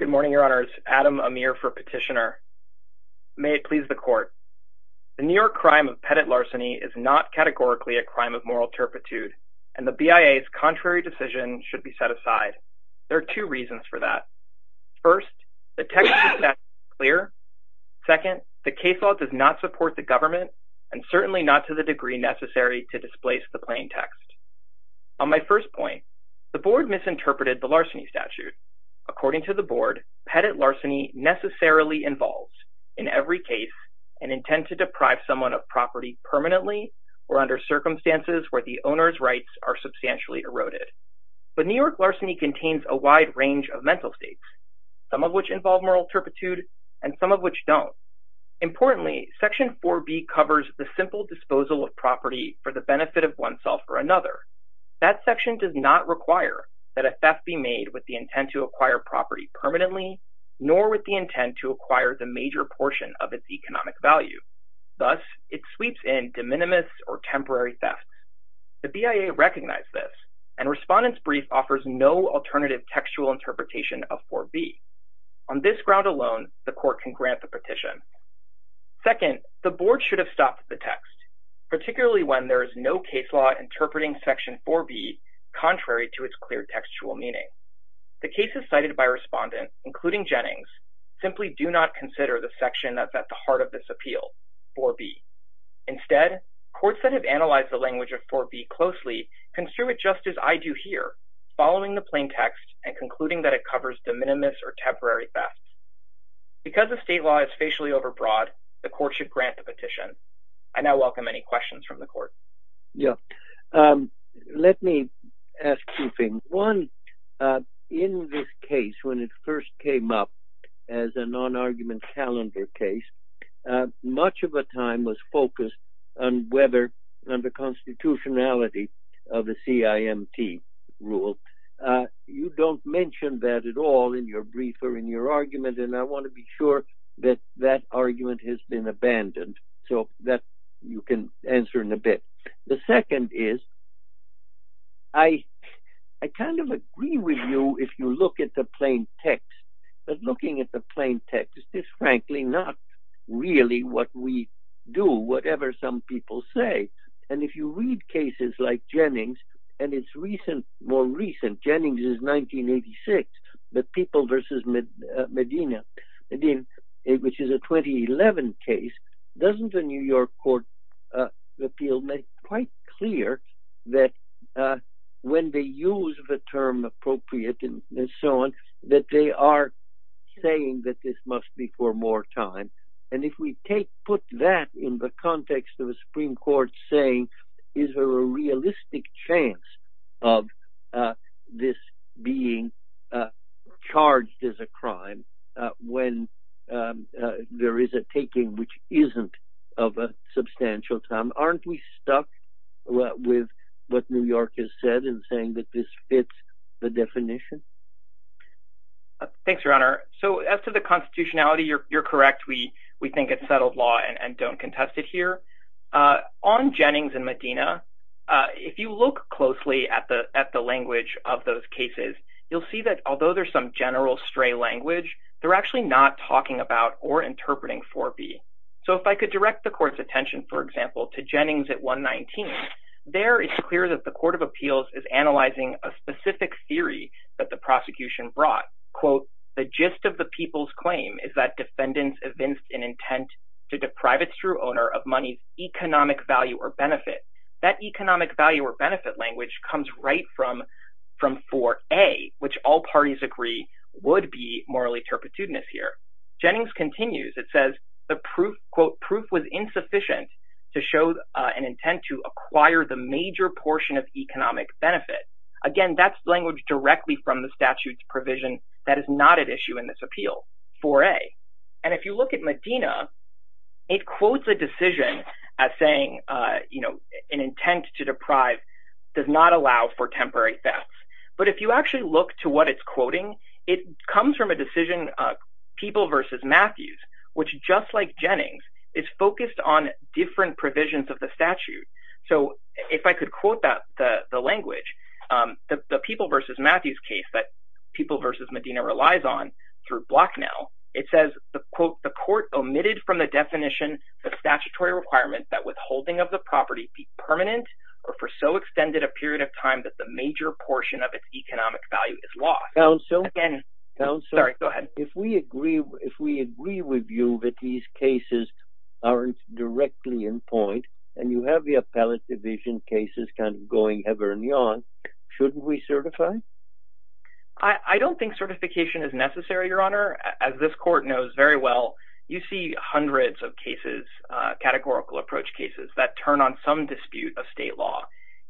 Good morning, Your Honors. Adam Amir for Petitioner. May it please the Court. The New York crime of pettit larceny is not categorically a crime of moral turpitude, and the BIA's contrary decision should be set aside. There are two reasons for that. First, the text is not clear. Second, the case law does not support the government, and certainly not to the degree necessary to displace the plain text. On my first point, the Board misinterpreted the larceny statute. According to the Board, pettit larceny necessarily involves, in every case, an intent to deprive someone of property permanently or under circumstances where the owner's rights are substantially eroded. But New York larceny contains a wide range of mental states, some of which involve moral turpitude and some of which don't. Importantly, Section 4B covers the simple disposal of property for the benefit of oneself or another. That section does not require that a theft be made with the intent to acquire property permanently, nor with the intent to acquire the major portion of its economic value. Thus, it sweeps in de minimis or temporary thefts. The BIA recognized this, and Respondent's Brief offers no alternative textual interpretation of 4B. On this ground alone, the Court can grant the petition. Second, the Board should have stopped the text, particularly when there is no case law interpreting Section 4B contrary to its clear textual meaning. The cases cited by Respondent, including Jennings, simply do not consider the section that's at the heart of this appeal, 4B. Instead, courts that have analyzed the language of 4B closely construe it just as I do here, following the plain text and concluding that it covers de minimis or temporary thefts. Because the state law is facially overbroad, the Court should grant the petition. I now welcome any questions from the Court. Yeah, let me ask two things. One, in this case, when it first came up as a non-argument calendar case, much of the time was focused on whether and the constitutionality of the CIMT rule. You don't mention that at all in your brief or in your argument, and I want to be sure that that argument has been abandoned. So that you can answer in a bit. The second is, I kind of agree with you if you look at the plain text. But looking at the plain text, it's frankly not really what we do, whatever some people say. And if you read cases like Jennings, and it's more recent, Jennings is 1986, but People versus Medina, which is a 2011 case, doesn't the New York Court of Appeals make quite clear that when they use the term appropriate and so on, that they are saying that this must be for more time. And if we put that in the context of a Supreme Court saying, is there a realistic chance of this being charged as a crime when there is a taking which isn't of a substantial time? Aren't we stuck with what New York has said in saying that this fits the definition? Thanks, Your Honor. So as to the and don't contest it here. On Jennings and Medina, if you look closely at the language of those cases, you'll see that although there's some general stray language, they're actually not talking about or interpreting 4B. So if I could direct the court's attention, for example, to Jennings at 119, there is clear that the Court of Appeals is analyzing a specific theory that the prosecution brought. Quote, the gist of the people's claim is that defendants evinced an intent to deprive its true owner of money's economic value or benefit. That economic value or benefit language comes right from 4A, which all parties agree would be morally turpitudinous here. Jennings continues. It says the proof, quote, proof was insufficient to show an intent to acquire the provision that is not at issue in this appeal, 4A. And if you look at Medina, it quotes a decision as saying, you know, an intent to deprive does not allow for temporary thefts. But if you actually look to what it's quoting, it comes from a decision, People v. Matthews, which just like Jennings, is focused on different provisions of the statute. So if I could quote that, the language, the People v. Matthews case that People v. Medina relies on through Blocknell, it says, quote, the court omitted from the definition the statutory requirement that withholding of the property be permanent or for so extended a period of time that the major portion of its economic value is lost. Again, sorry, go ahead. If we agree with you that these cases aren't directly in point, and you have the appellate division cases kind of going ever and young, shouldn't we certify? I don't think certification is necessary, Your Honor. As this court knows very well, you see hundreds of cases, categorical approach cases that turn on some dispute of state law.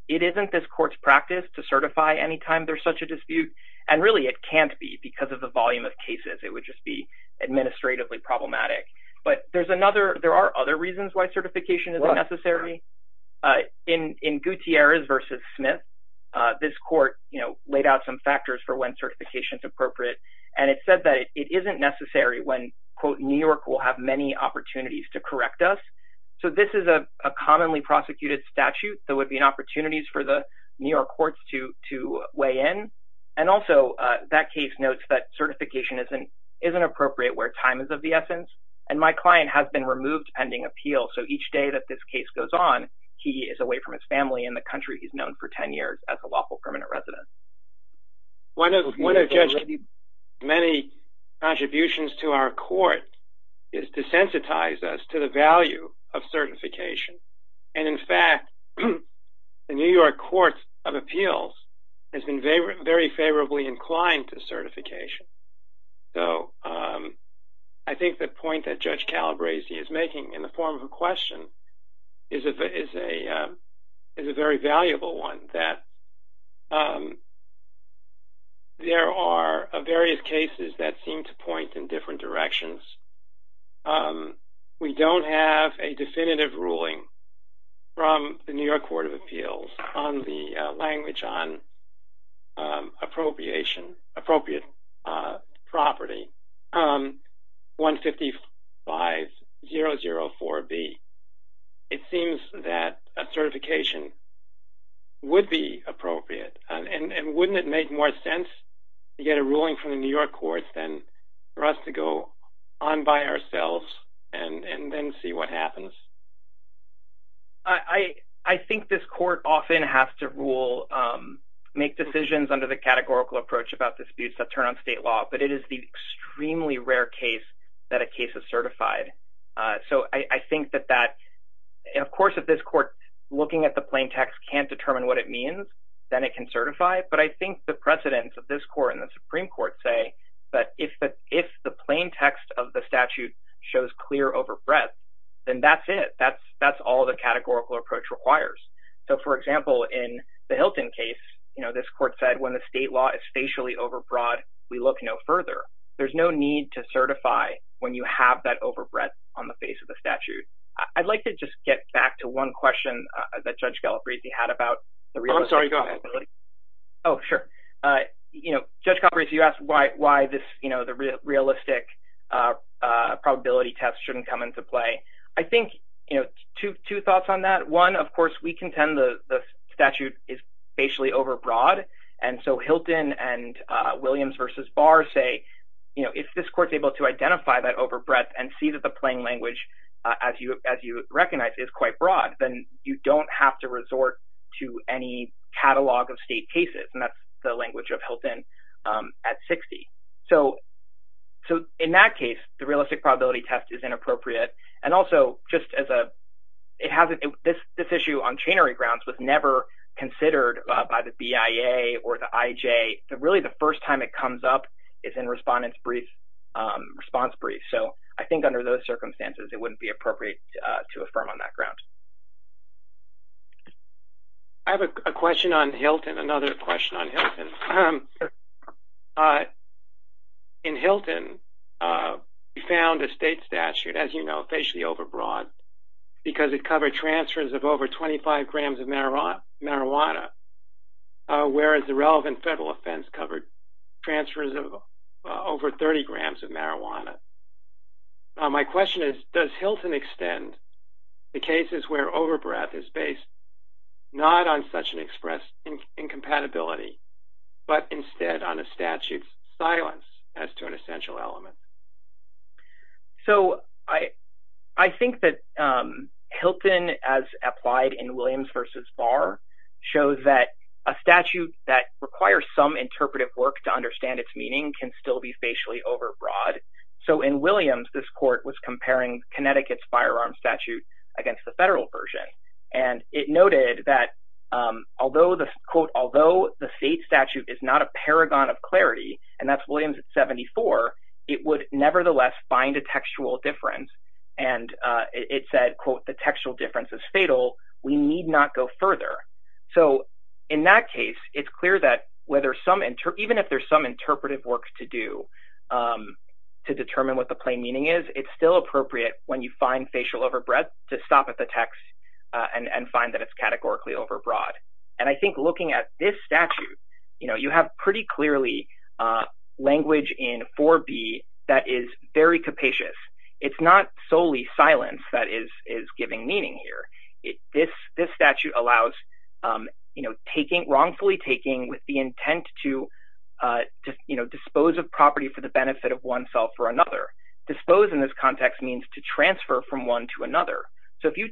It isn't this court's practice to certify anytime there's such a dispute. And really, it can't be because of the volume of cases, it would just be administratively problematic. But there's other reasons why certification isn't necessary. In Gutierrez v. Smith, this court laid out some factors for when certification is appropriate. And it said that it isn't necessary when, quote, New York will have many opportunities to correct us. So this is a commonly prosecuted statute, there would be opportunities for the New York courts to weigh in. And also, that case notes that certification isn't appropriate where time is of the essence. And my client has been removed pending appeal. So each day that this case goes on, he is away from his family in the country he's known for 10 years as a lawful permanent resident. One of Judge Kennedy's many contributions to our court is to sensitize us to the value of certification. And in fact, the New York Court of Appeals has been very favorably inclined to certification. So I think the point that Judge Calabresi is making in the form of a question is a very valuable one, that there are various cases that seem to point in different directions. We don't have a definitive ruling from the New York Court of Appeals on the language on appropriate property, 155004B. It seems that a certification would be appropriate. And wouldn't it make more sense to get a ruling from the New York courts for us to go on by ourselves and then see what happens? I think this court often has to rule, make decisions under the categorical approach about disputes that turn on state law. But it is the extremely rare case that a case is certified. So I think that that, of course, if this court looking at the plain text can't determine what it means, then it can certify. But I think the precedents of this court and the Supreme Court say that if the plain text of the statute shows clear overbreadth, then that's it. That's all the categorical approach requires. So for example, in the Hilton case, this court said when the state law is spatially overbroad, we look no further. There's no need to certify when you have that overbreadth on the face of the statute. I'd like to just get back to one question that Judge Calabresi had about the you know, Judge Calabresi, you asked why this, you know, the realistic probability test shouldn't come into play. I think, you know, two thoughts on that. One, of course, we contend the statute is spatially overbroad. And so Hilton and Williams v. Barr say, you know, if this court's able to identify that overbreadth and see that the plain language, as you recognize, is quite broad, then you don't have to resort to any catalog of state cases. And that's the language of Hilton at 60. So in that case, the realistic probability test is inappropriate. And also, just as a, it hasn't, this issue on chainery grounds was never considered by the BIA or the IJ. Really, the first time it comes up is in respondent's brief, response brief. So I think under those I have a question on Hilton, another question on Hilton. In Hilton, we found a state statute, as you know, spatially overbroad, because it covered transfers of over 25 grams of marijuana, whereas the relevant federal offense covered transfers of over 30 grams of marijuana. My question is, is Hilton's overbreadth is based not on such an express incompatibility, but instead on a statute's silence as to an essential element? So I think that Hilton, as applied in Williams v. Barr, shows that a statute that requires some interpretive work to understand its meaning can still be spatially overbroad. So in Williams, this court was and it noted that although the, quote, although the state statute is not a paragon of clarity, and that's Williams 74, it would nevertheless find a textual difference. And it said, quote, the textual difference is fatal. We need not go further. So in that case, it's clear that whether some, even if there's some interpretive work to do to determine what the plain meaning is, it's still appropriate when you find facial overbreadth to stop at the text and find that it's categorically overbroad. And I think looking at this statute, you know, you have pretty clearly language in 4B that is very capacious. It's not solely silence that is giving meaning here. This statute allows, you know, taking, wrongfully taking with the intent to, you know, dispose of property for the benefit of oneself or another. Dispose in this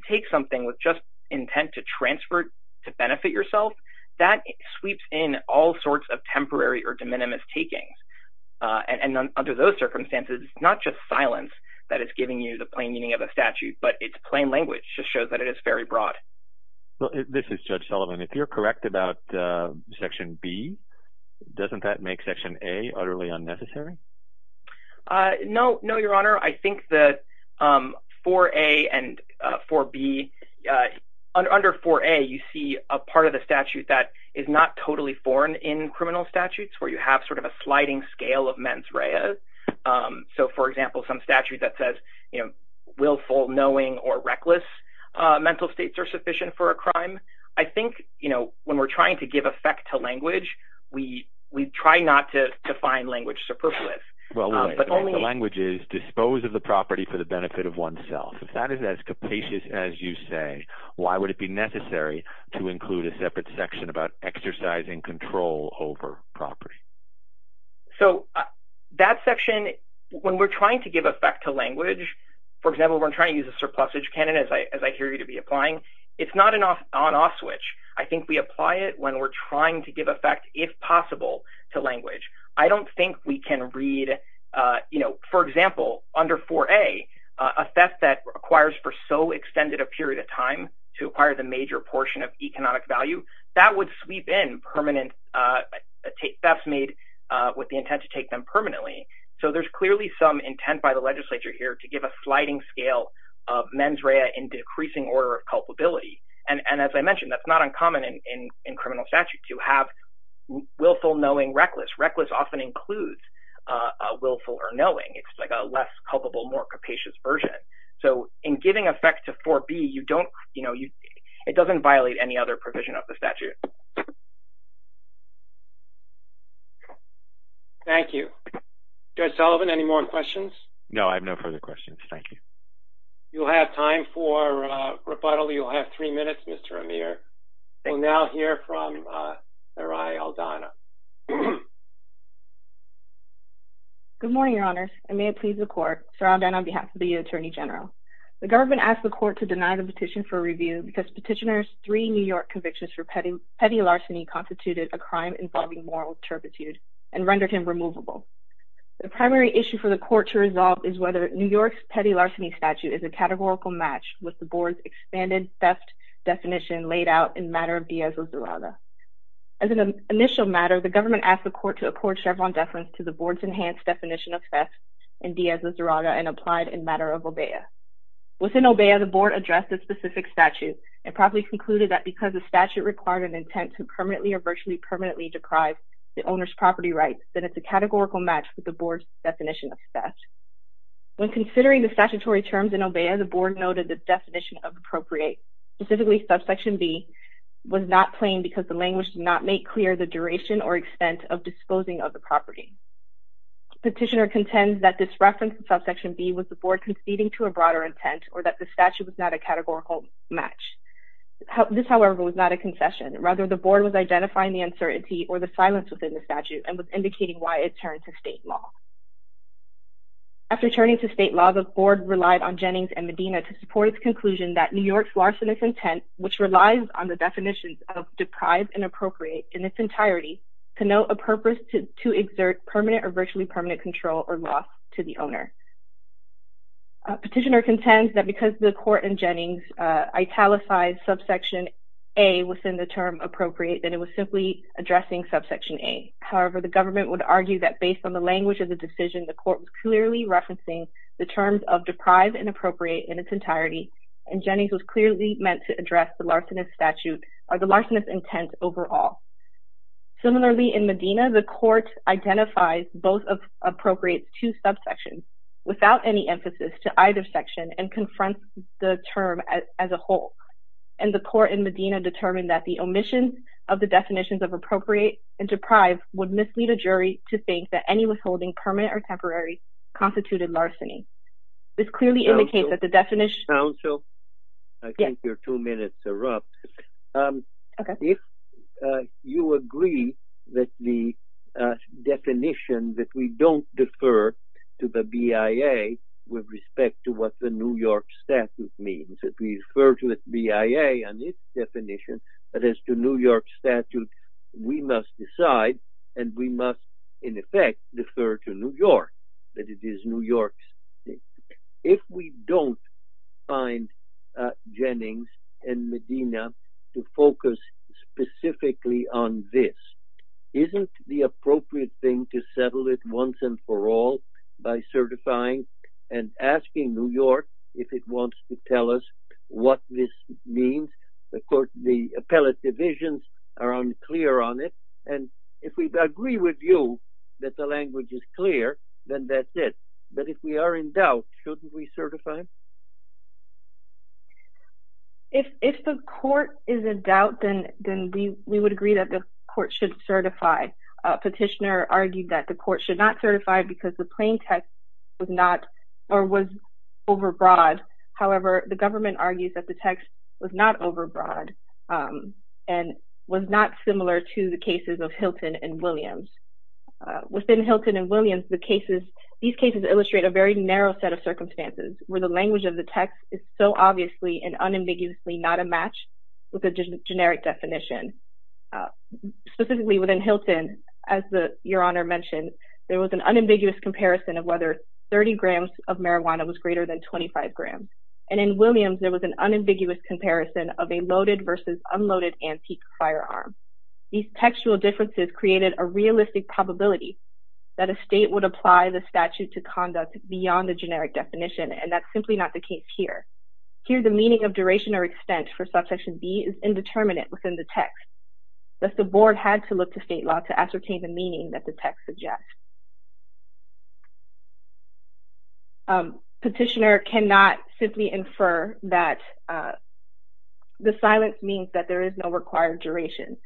take something with just intent to transfer to benefit yourself, that sweeps in all sorts of temporary or de minimis taking. And under those circumstances, it's not just silence that is giving you the plain meaning of a statute, but it's plain language just shows that it is very broad. Well, this is Judge Sullivan. If you're correct about Section B, doesn't that make Section A utterly unnecessary? No, Your Honor. I think that 4A and 4B, under 4A, you see a part of the statute that is not totally foreign in criminal statutes, where you have sort of a sliding scale of mens rea. So, for example, some statute that says, you know, willful, knowing, or reckless mental states are sufficient for a crime. I think, you know, when we're trying to give effect to language, for example, we're trying to use a surplusage canon, as I hear you to be applying, it's not an on-off switch. I think we apply it when we're trying to give effect, if I don't think we can read, you know, for example, under 4A, a theft that requires for so extended a period of time to acquire the major portion of economic value, that would sweep in permanent thefts made with the intent to take them permanently. So there's clearly some intent by the legislature here to give a sliding scale of mens rea in decreasing order of culpability. And as I know, this often includes a willful or knowing. It's like a less culpable, more capacious version. So in giving effect to 4B, you don't, you know, it doesn't violate any other provision of the statute. Thank you. Judge Sullivan, any more questions? No, I have no further questions. Thank you. You'll have time for rebuttal. You'll have three minutes, Mr. Amir. We'll now hear from Good morning, Your Honors, and may it please the court, Saradan on behalf of the Attorney General. The government asked the court to deny the petition for review because Petitioner's three New York convictions for petty larceny constituted a crime involving moral turpitude and rendered him removable. The primary issue for the court to resolve is whether New York's petty larceny statute is a categorical match with the board's expanded theft definition laid out in matter of Diaz-Lazurada. As an initial matter, the government asked the court to accord Chevron deference to the board's enhanced definition of theft in Diaz-Lazurada and applied in matter of Obeah. Within Obeah, the board addressed the specific statute and properly concluded that because the statute required an intent to permanently or virtually permanently deprive the owner's property rights, that it's a categorical match with the board's definition of theft. When considering the statutory terms in Obeah, the board noted the definition of appropriate, specifically subsection B, was not plain because the language did not make clear the duration or extent of disposing of the property. Petitioner contends that this reference to subsection B was the board conceding to a broader intent or that the statute was not a categorical match. This, however, was not a concession. Rather, the board was identifying the uncertainty or the silence within the statute and was indicating why it turned to state law. After turning to state law, the board relied on Jennings and Medina to support its conclusion that New York's larcenous intent, which relies on the term deprived and appropriate in its entirety, to note a purpose to exert permanent or virtually permanent control or loss to the owner. Petitioner contends that because the court in Jennings italicized subsection A within the term appropriate, that it was simply addressing subsection A. However, the government would argue that based on the language of the decision, the court was clearly referencing the terms of deprived and appropriate in its entirety, and Jennings was Similarly, in Medina, the court identifies both of appropriate's two subsections without any emphasis to either section and confronts the term as a whole. And the court in Medina determined that the omission of the definitions of appropriate and deprived would mislead a jury to think that any withholding, permanent or temporary, constituted larceny. This clearly indicates that the If you agree that the definition that we don't defer to the BIA with respect to what the New York statute means, that we defer to the BIA on its definition, but as to New York statute, we must decide and we must, in effect, defer to New York, that it is New York's. If we don't find Jennings and Medina to focus specifically on this, isn't the appropriate thing to settle it once and for all by certifying and asking New York if it wants to tell us what this means? Of course, the appellate divisions are unclear on it. And if we agree with you that the language is clear, then that's it. But if we are in doubt, shouldn't we certify? If the court is in doubt, then we would agree that the court should certify. A petitioner argued that the court should not certify because the plain text was not or was overbroad. However, the government argues that the text was not overbroad and was not similar to the cases of Hilton and Williams. Within Hilton and Williams, these cases illustrate a very narrow set of circumstances where the language of the text is so obviously and unambiguously not a match with a generic definition. Specifically within Hilton, as Your Honor mentioned, there was an unambiguous comparison of whether 30 grams of marijuana was greater than 25 grams. And in Williams, there was an unambiguous comparison of a loaded versus unloaded firearm. These textual differences created a realistic probability that a state would apply the statute to conduct beyond the generic definition, and that's simply not the case here. Here, the meaning of duration or extent for subsection B is indeterminate within the text. Thus, the board had to look to state law to ascertain the meaning that the text suggests. Petitioner cannot simply infer that the silence means that there is no required duration.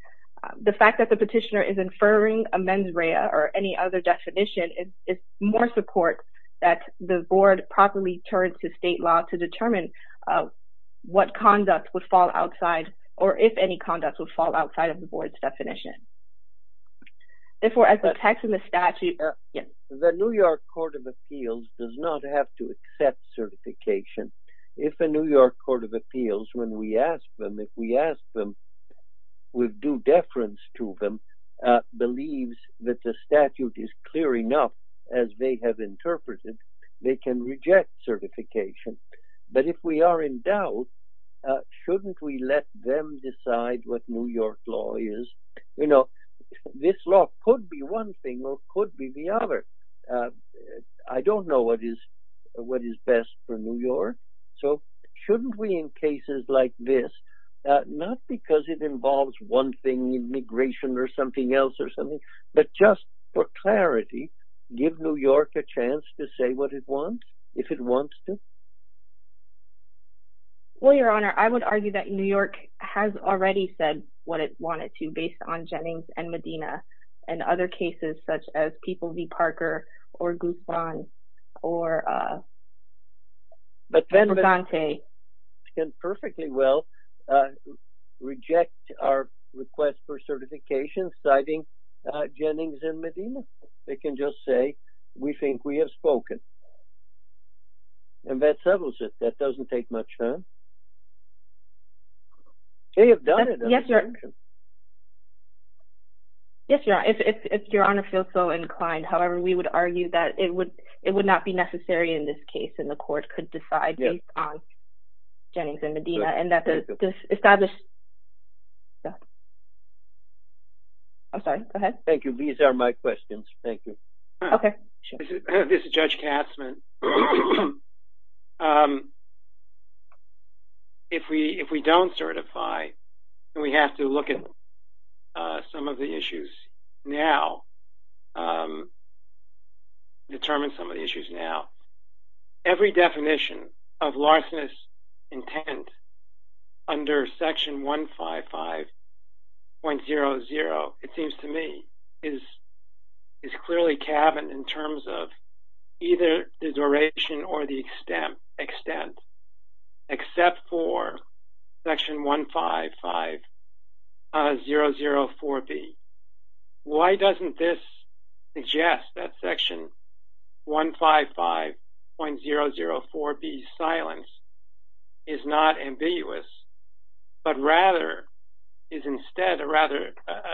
The fact that the petitioner is inferring amends REA or any other definition, it's more support that the board properly turns to state law to determine what conduct would fall outside or if any conduct would fall outside of the board's definition. The New York Court of Appeals does not have to accept certification. If a New York Court of Appeals, when we ask them, if we ask them with due deference to them, believes that the statute is clear enough as they have interpreted, they can reject certification. But if we are in doubt, shouldn't we let them decide what New York law is? You know, this law could be one thing or could be the other. I don't know what is best for New York, so shouldn't we in cases like this, not because it involves one thing, immigration or something else or something, but just for clarity, give New York a chance to say what it wants, if it wants to? Well, Your Honor, I would argue that New York has already said what it wanted to, based on Jennings and Medina and other cases such as People v. Parker or Guzman or Presente. It can perfectly well reject our request for certification citing Jennings and Medina. They can just say, we think we have spoken. And that settles it. That doesn't take much time. They have done it. Yes, Your Honor. If Your Honor feels so inclined, however, we would argue that it would not be necessary in this case and the court could decide based on Jennings and Medina and that the established... I'm sorry, go ahead. Thank you. These are my questions. Thank you. Okay. This is Judge Katzmann. If we don't certify, we have to look at some of the issues now, determine some of the issues now. Every definition of larcenous intent under Section 155.00, it seems to me, is clearly cabined in terms of either the duration or the extent, except for Section 155.004b. Why doesn't this suggest that Section 155.004b's silence is not ambiguous, but rather is instead a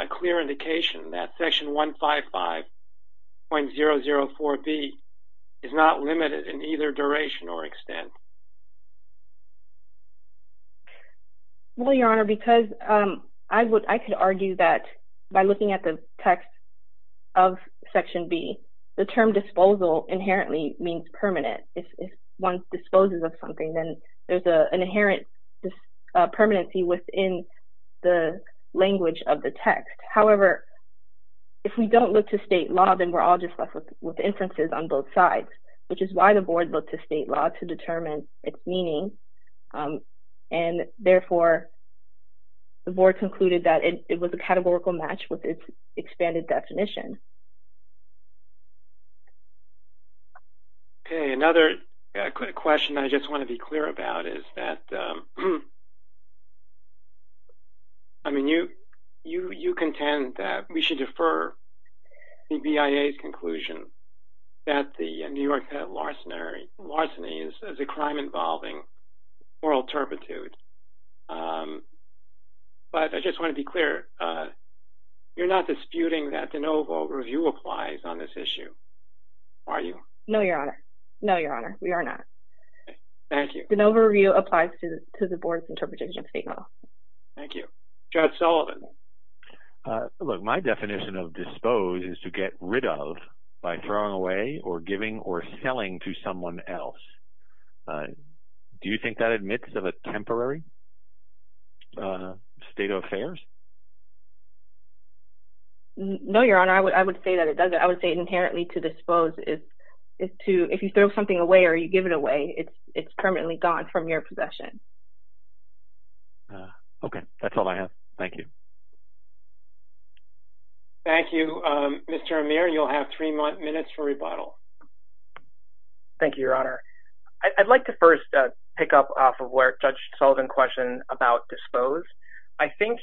clear indication that Section 155.004b is not limited in either duration or extent? Well, Your Honor, because I could argue that by looking at the text of Section B, the term disposal inherently means permanent. If one disposes of something, then there's an inherent permanency within the language of the text. However, if we don't look to state law, then we're all just left with inferences on both sides, which is why the Board looked to state law to determine its meaning. And therefore, the Board concluded that it was a categorical match with its expanded definition. Okay. Another question I just want to be clear about is that, I mean, you contend that we should defer the BIA's conclusion that the New York State larceny is a crime involving moral turpitude. But I just want to be clear, you're not disputing that de novo review applies on this issue, are you? No, Your Honor. No, Your Honor, we are not. Thank you. De novo review applies to the Board's interpretation of state law. Thank you. Judge Sullivan. Look, my definition of dispose is to get rid of by throwing away or giving or selling to someone else. Do you think that admits of a temporary state of affairs? No, Your Honor. I would say that it doesn't. I would say inherently to dispose is to, if you throw something away or you give it away, it's permanently gone from your possession. Okay. That's all I have. Thank you. Thank you. Mr. Amir, you'll have three minutes for rebuttal. Thank you, Your Honor. I'd like to first pick up off of where Judge Sullivan questioned about dispose. I think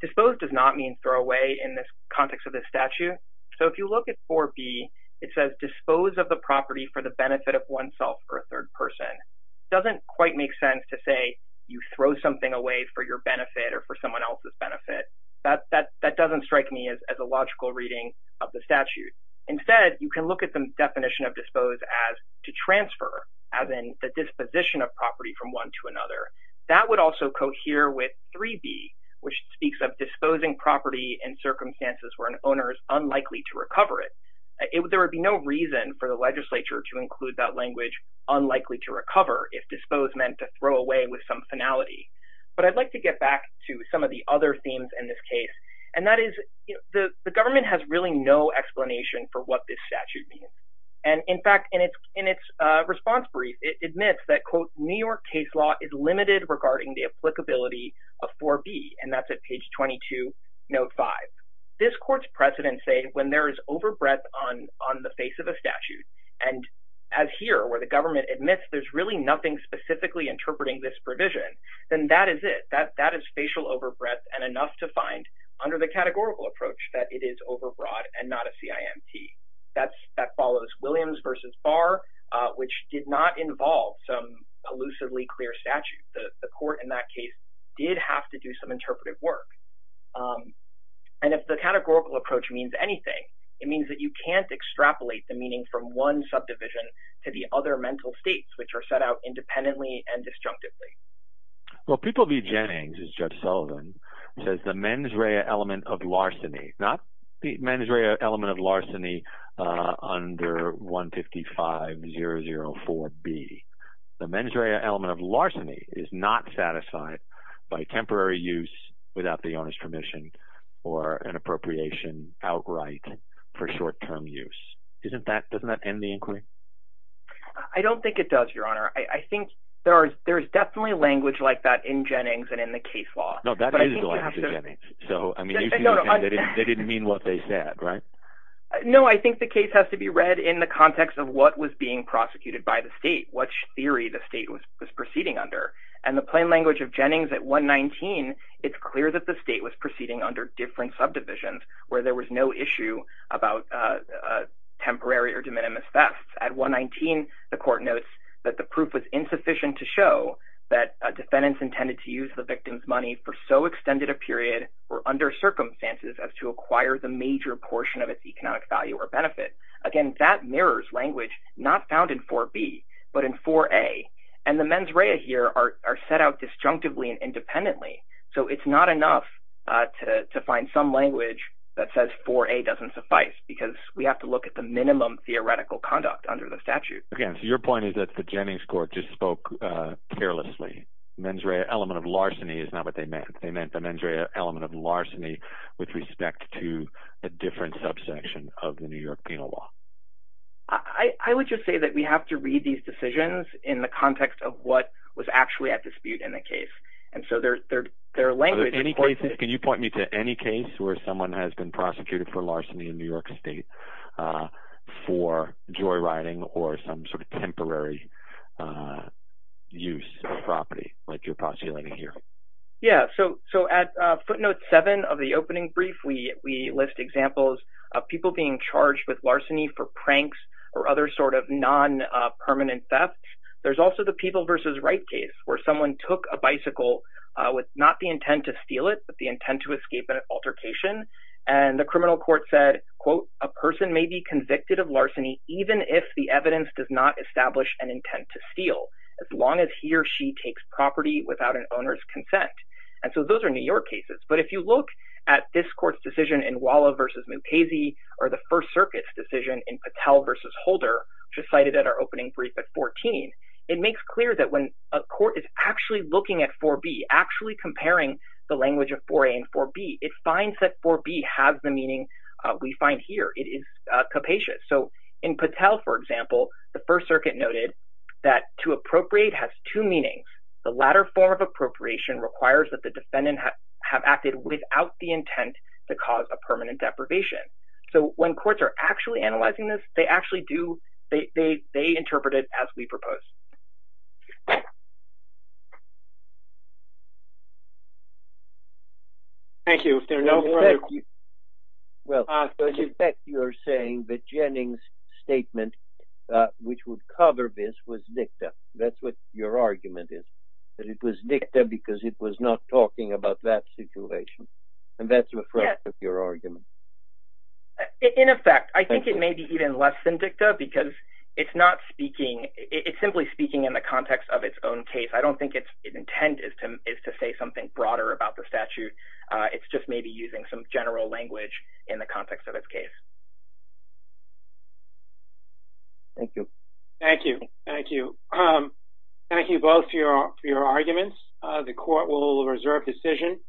dispose does not mean throw away in the context of this statute. So if you look at 4B, it says dispose of the property for the benefit of oneself or a third person. It doesn't quite make sense to say you throw something away for your benefit or for someone else's benefit. That doesn't strike me as a logical reading of the statute. Instead, you can look at the definition of dispose as to transfer, as in the disposition of property from one to another. That would also cohere with 3B, which speaks of disposing property in circumstances where an owner is unlikely to recover it. There would be no reason for the legislature to include that language, unlikely to recover, if dispose meant to throw away with some finality. But I'd like to get back to some of the other themes in this case, and that is the government has really no explanation for what this statute means. And, in fact, in its response brief, it admits that, quote, New York case law is limited regarding the applicability of 4B, and that's at page 22, note 5. This court's precedents say when there is overbreadth on the face of a statute, and as here where the government admits there's really nothing specifically interpreting this provision, then that is it. That is facial overbreadth and enough to find under the categorical approach that it is overbroad and not a CIMT. That follows Williams v. Barr, which did not involve some elusively clear statute. The court in that case did have to do some interpretive work. And if the categorical approach means anything, it means that you can't extrapolate the meaning from one subdivision to the other mental states, which are set out independently and disjunctively. Well, People v. Jennings, as Judge Sullivan says, the mens rea element of larceny, not the mens rea element of larceny under 155-004-B. The mens rea element of larceny is not satisfied by temporary use without the owner's permission or an appropriation outright for short-term use. Doesn't that end the inquiry? I don't think it does, Your Honor. I think there is definitely language like that in Jennings and in the case law. No, that is the language of Jennings. So, I mean, they didn't mean what they said, right? No, I think the case has to be read in the context of what was being prosecuted by the state. What theory the state was proceeding under. And the plain language of Jennings at 119, it's clear that the state was proceeding under different subdivisions where there was no issue about temporary or de minimis thefts. At 119, the court notes that the proof was insufficient to show that defendants intended to use the victim's money for so extended a period or under circumstances as to acquire the major portion of its economic value or benefit. Again, that mirrors language not found in 4B, but in 4A. And the mens rea here are set out disjunctively and independently. So it's not enough to find some language that says 4A doesn't suffice because we have to look at the minimum theoretical conduct under the statute. Again, so your point is that the Jennings court just spoke carelessly. Mens rea element of larceny is not what they meant. They meant the mens rea element of larceny with respect to a different subsection of the New York penal law. I would just say that we have to read these decisions in the context of what was actually at dispute in the case. And so their language is quite different. Can you point me to any case where someone has been prosecuted for larceny in New York State for joyriding or some sort of temporary use of property like you're postulating here? Yeah, so at footnote 7 of the opening brief, we list examples of people being charged with larceny for pranks or other sort of non-permanent thefts. There's also the People v. Wright case where someone took a bicycle with not the intent to steal it, but the intent to escape an altercation. And the criminal court said, quote, a person may be convicted of larceny even if the evidence does not establish an intent to steal as long as he or she takes property without an owner's consent. And so those are New York cases. But if you look at this court's decision in Walla v. Montese or the First Circuit's decision in Patel v. Holder, which was cited at our opening brief at 14, it makes clear that when a court is actually looking at 4B, actually comparing the language of 4A and 4B, it finds that 4B has the meaning we find here. It is capacious. So in Patel, for example, the First Circuit noted that to appropriate has two meanings. The latter form of appropriation requires that the defendant have acted without the intent to cause a permanent deprivation. So when courts are actually analyzing this, they actually do – they interpret it as we propose. Thank you. Well, in effect, you're saying that Jennings' statement, which would cover this, was dicta. That's what your argument is, that it was dicta because it was not talking about that situation. And that's reflective of your argument. In effect. I think it may be even less than dicta because it's not speaking – it's simply speaking in the context of its own case. I don't think its intent is to say something broader about the statute. It's just maybe using some general language in the context of its case. Thank you. Thank you. Thank you. Thank you both for your arguments. The court will reserve decision.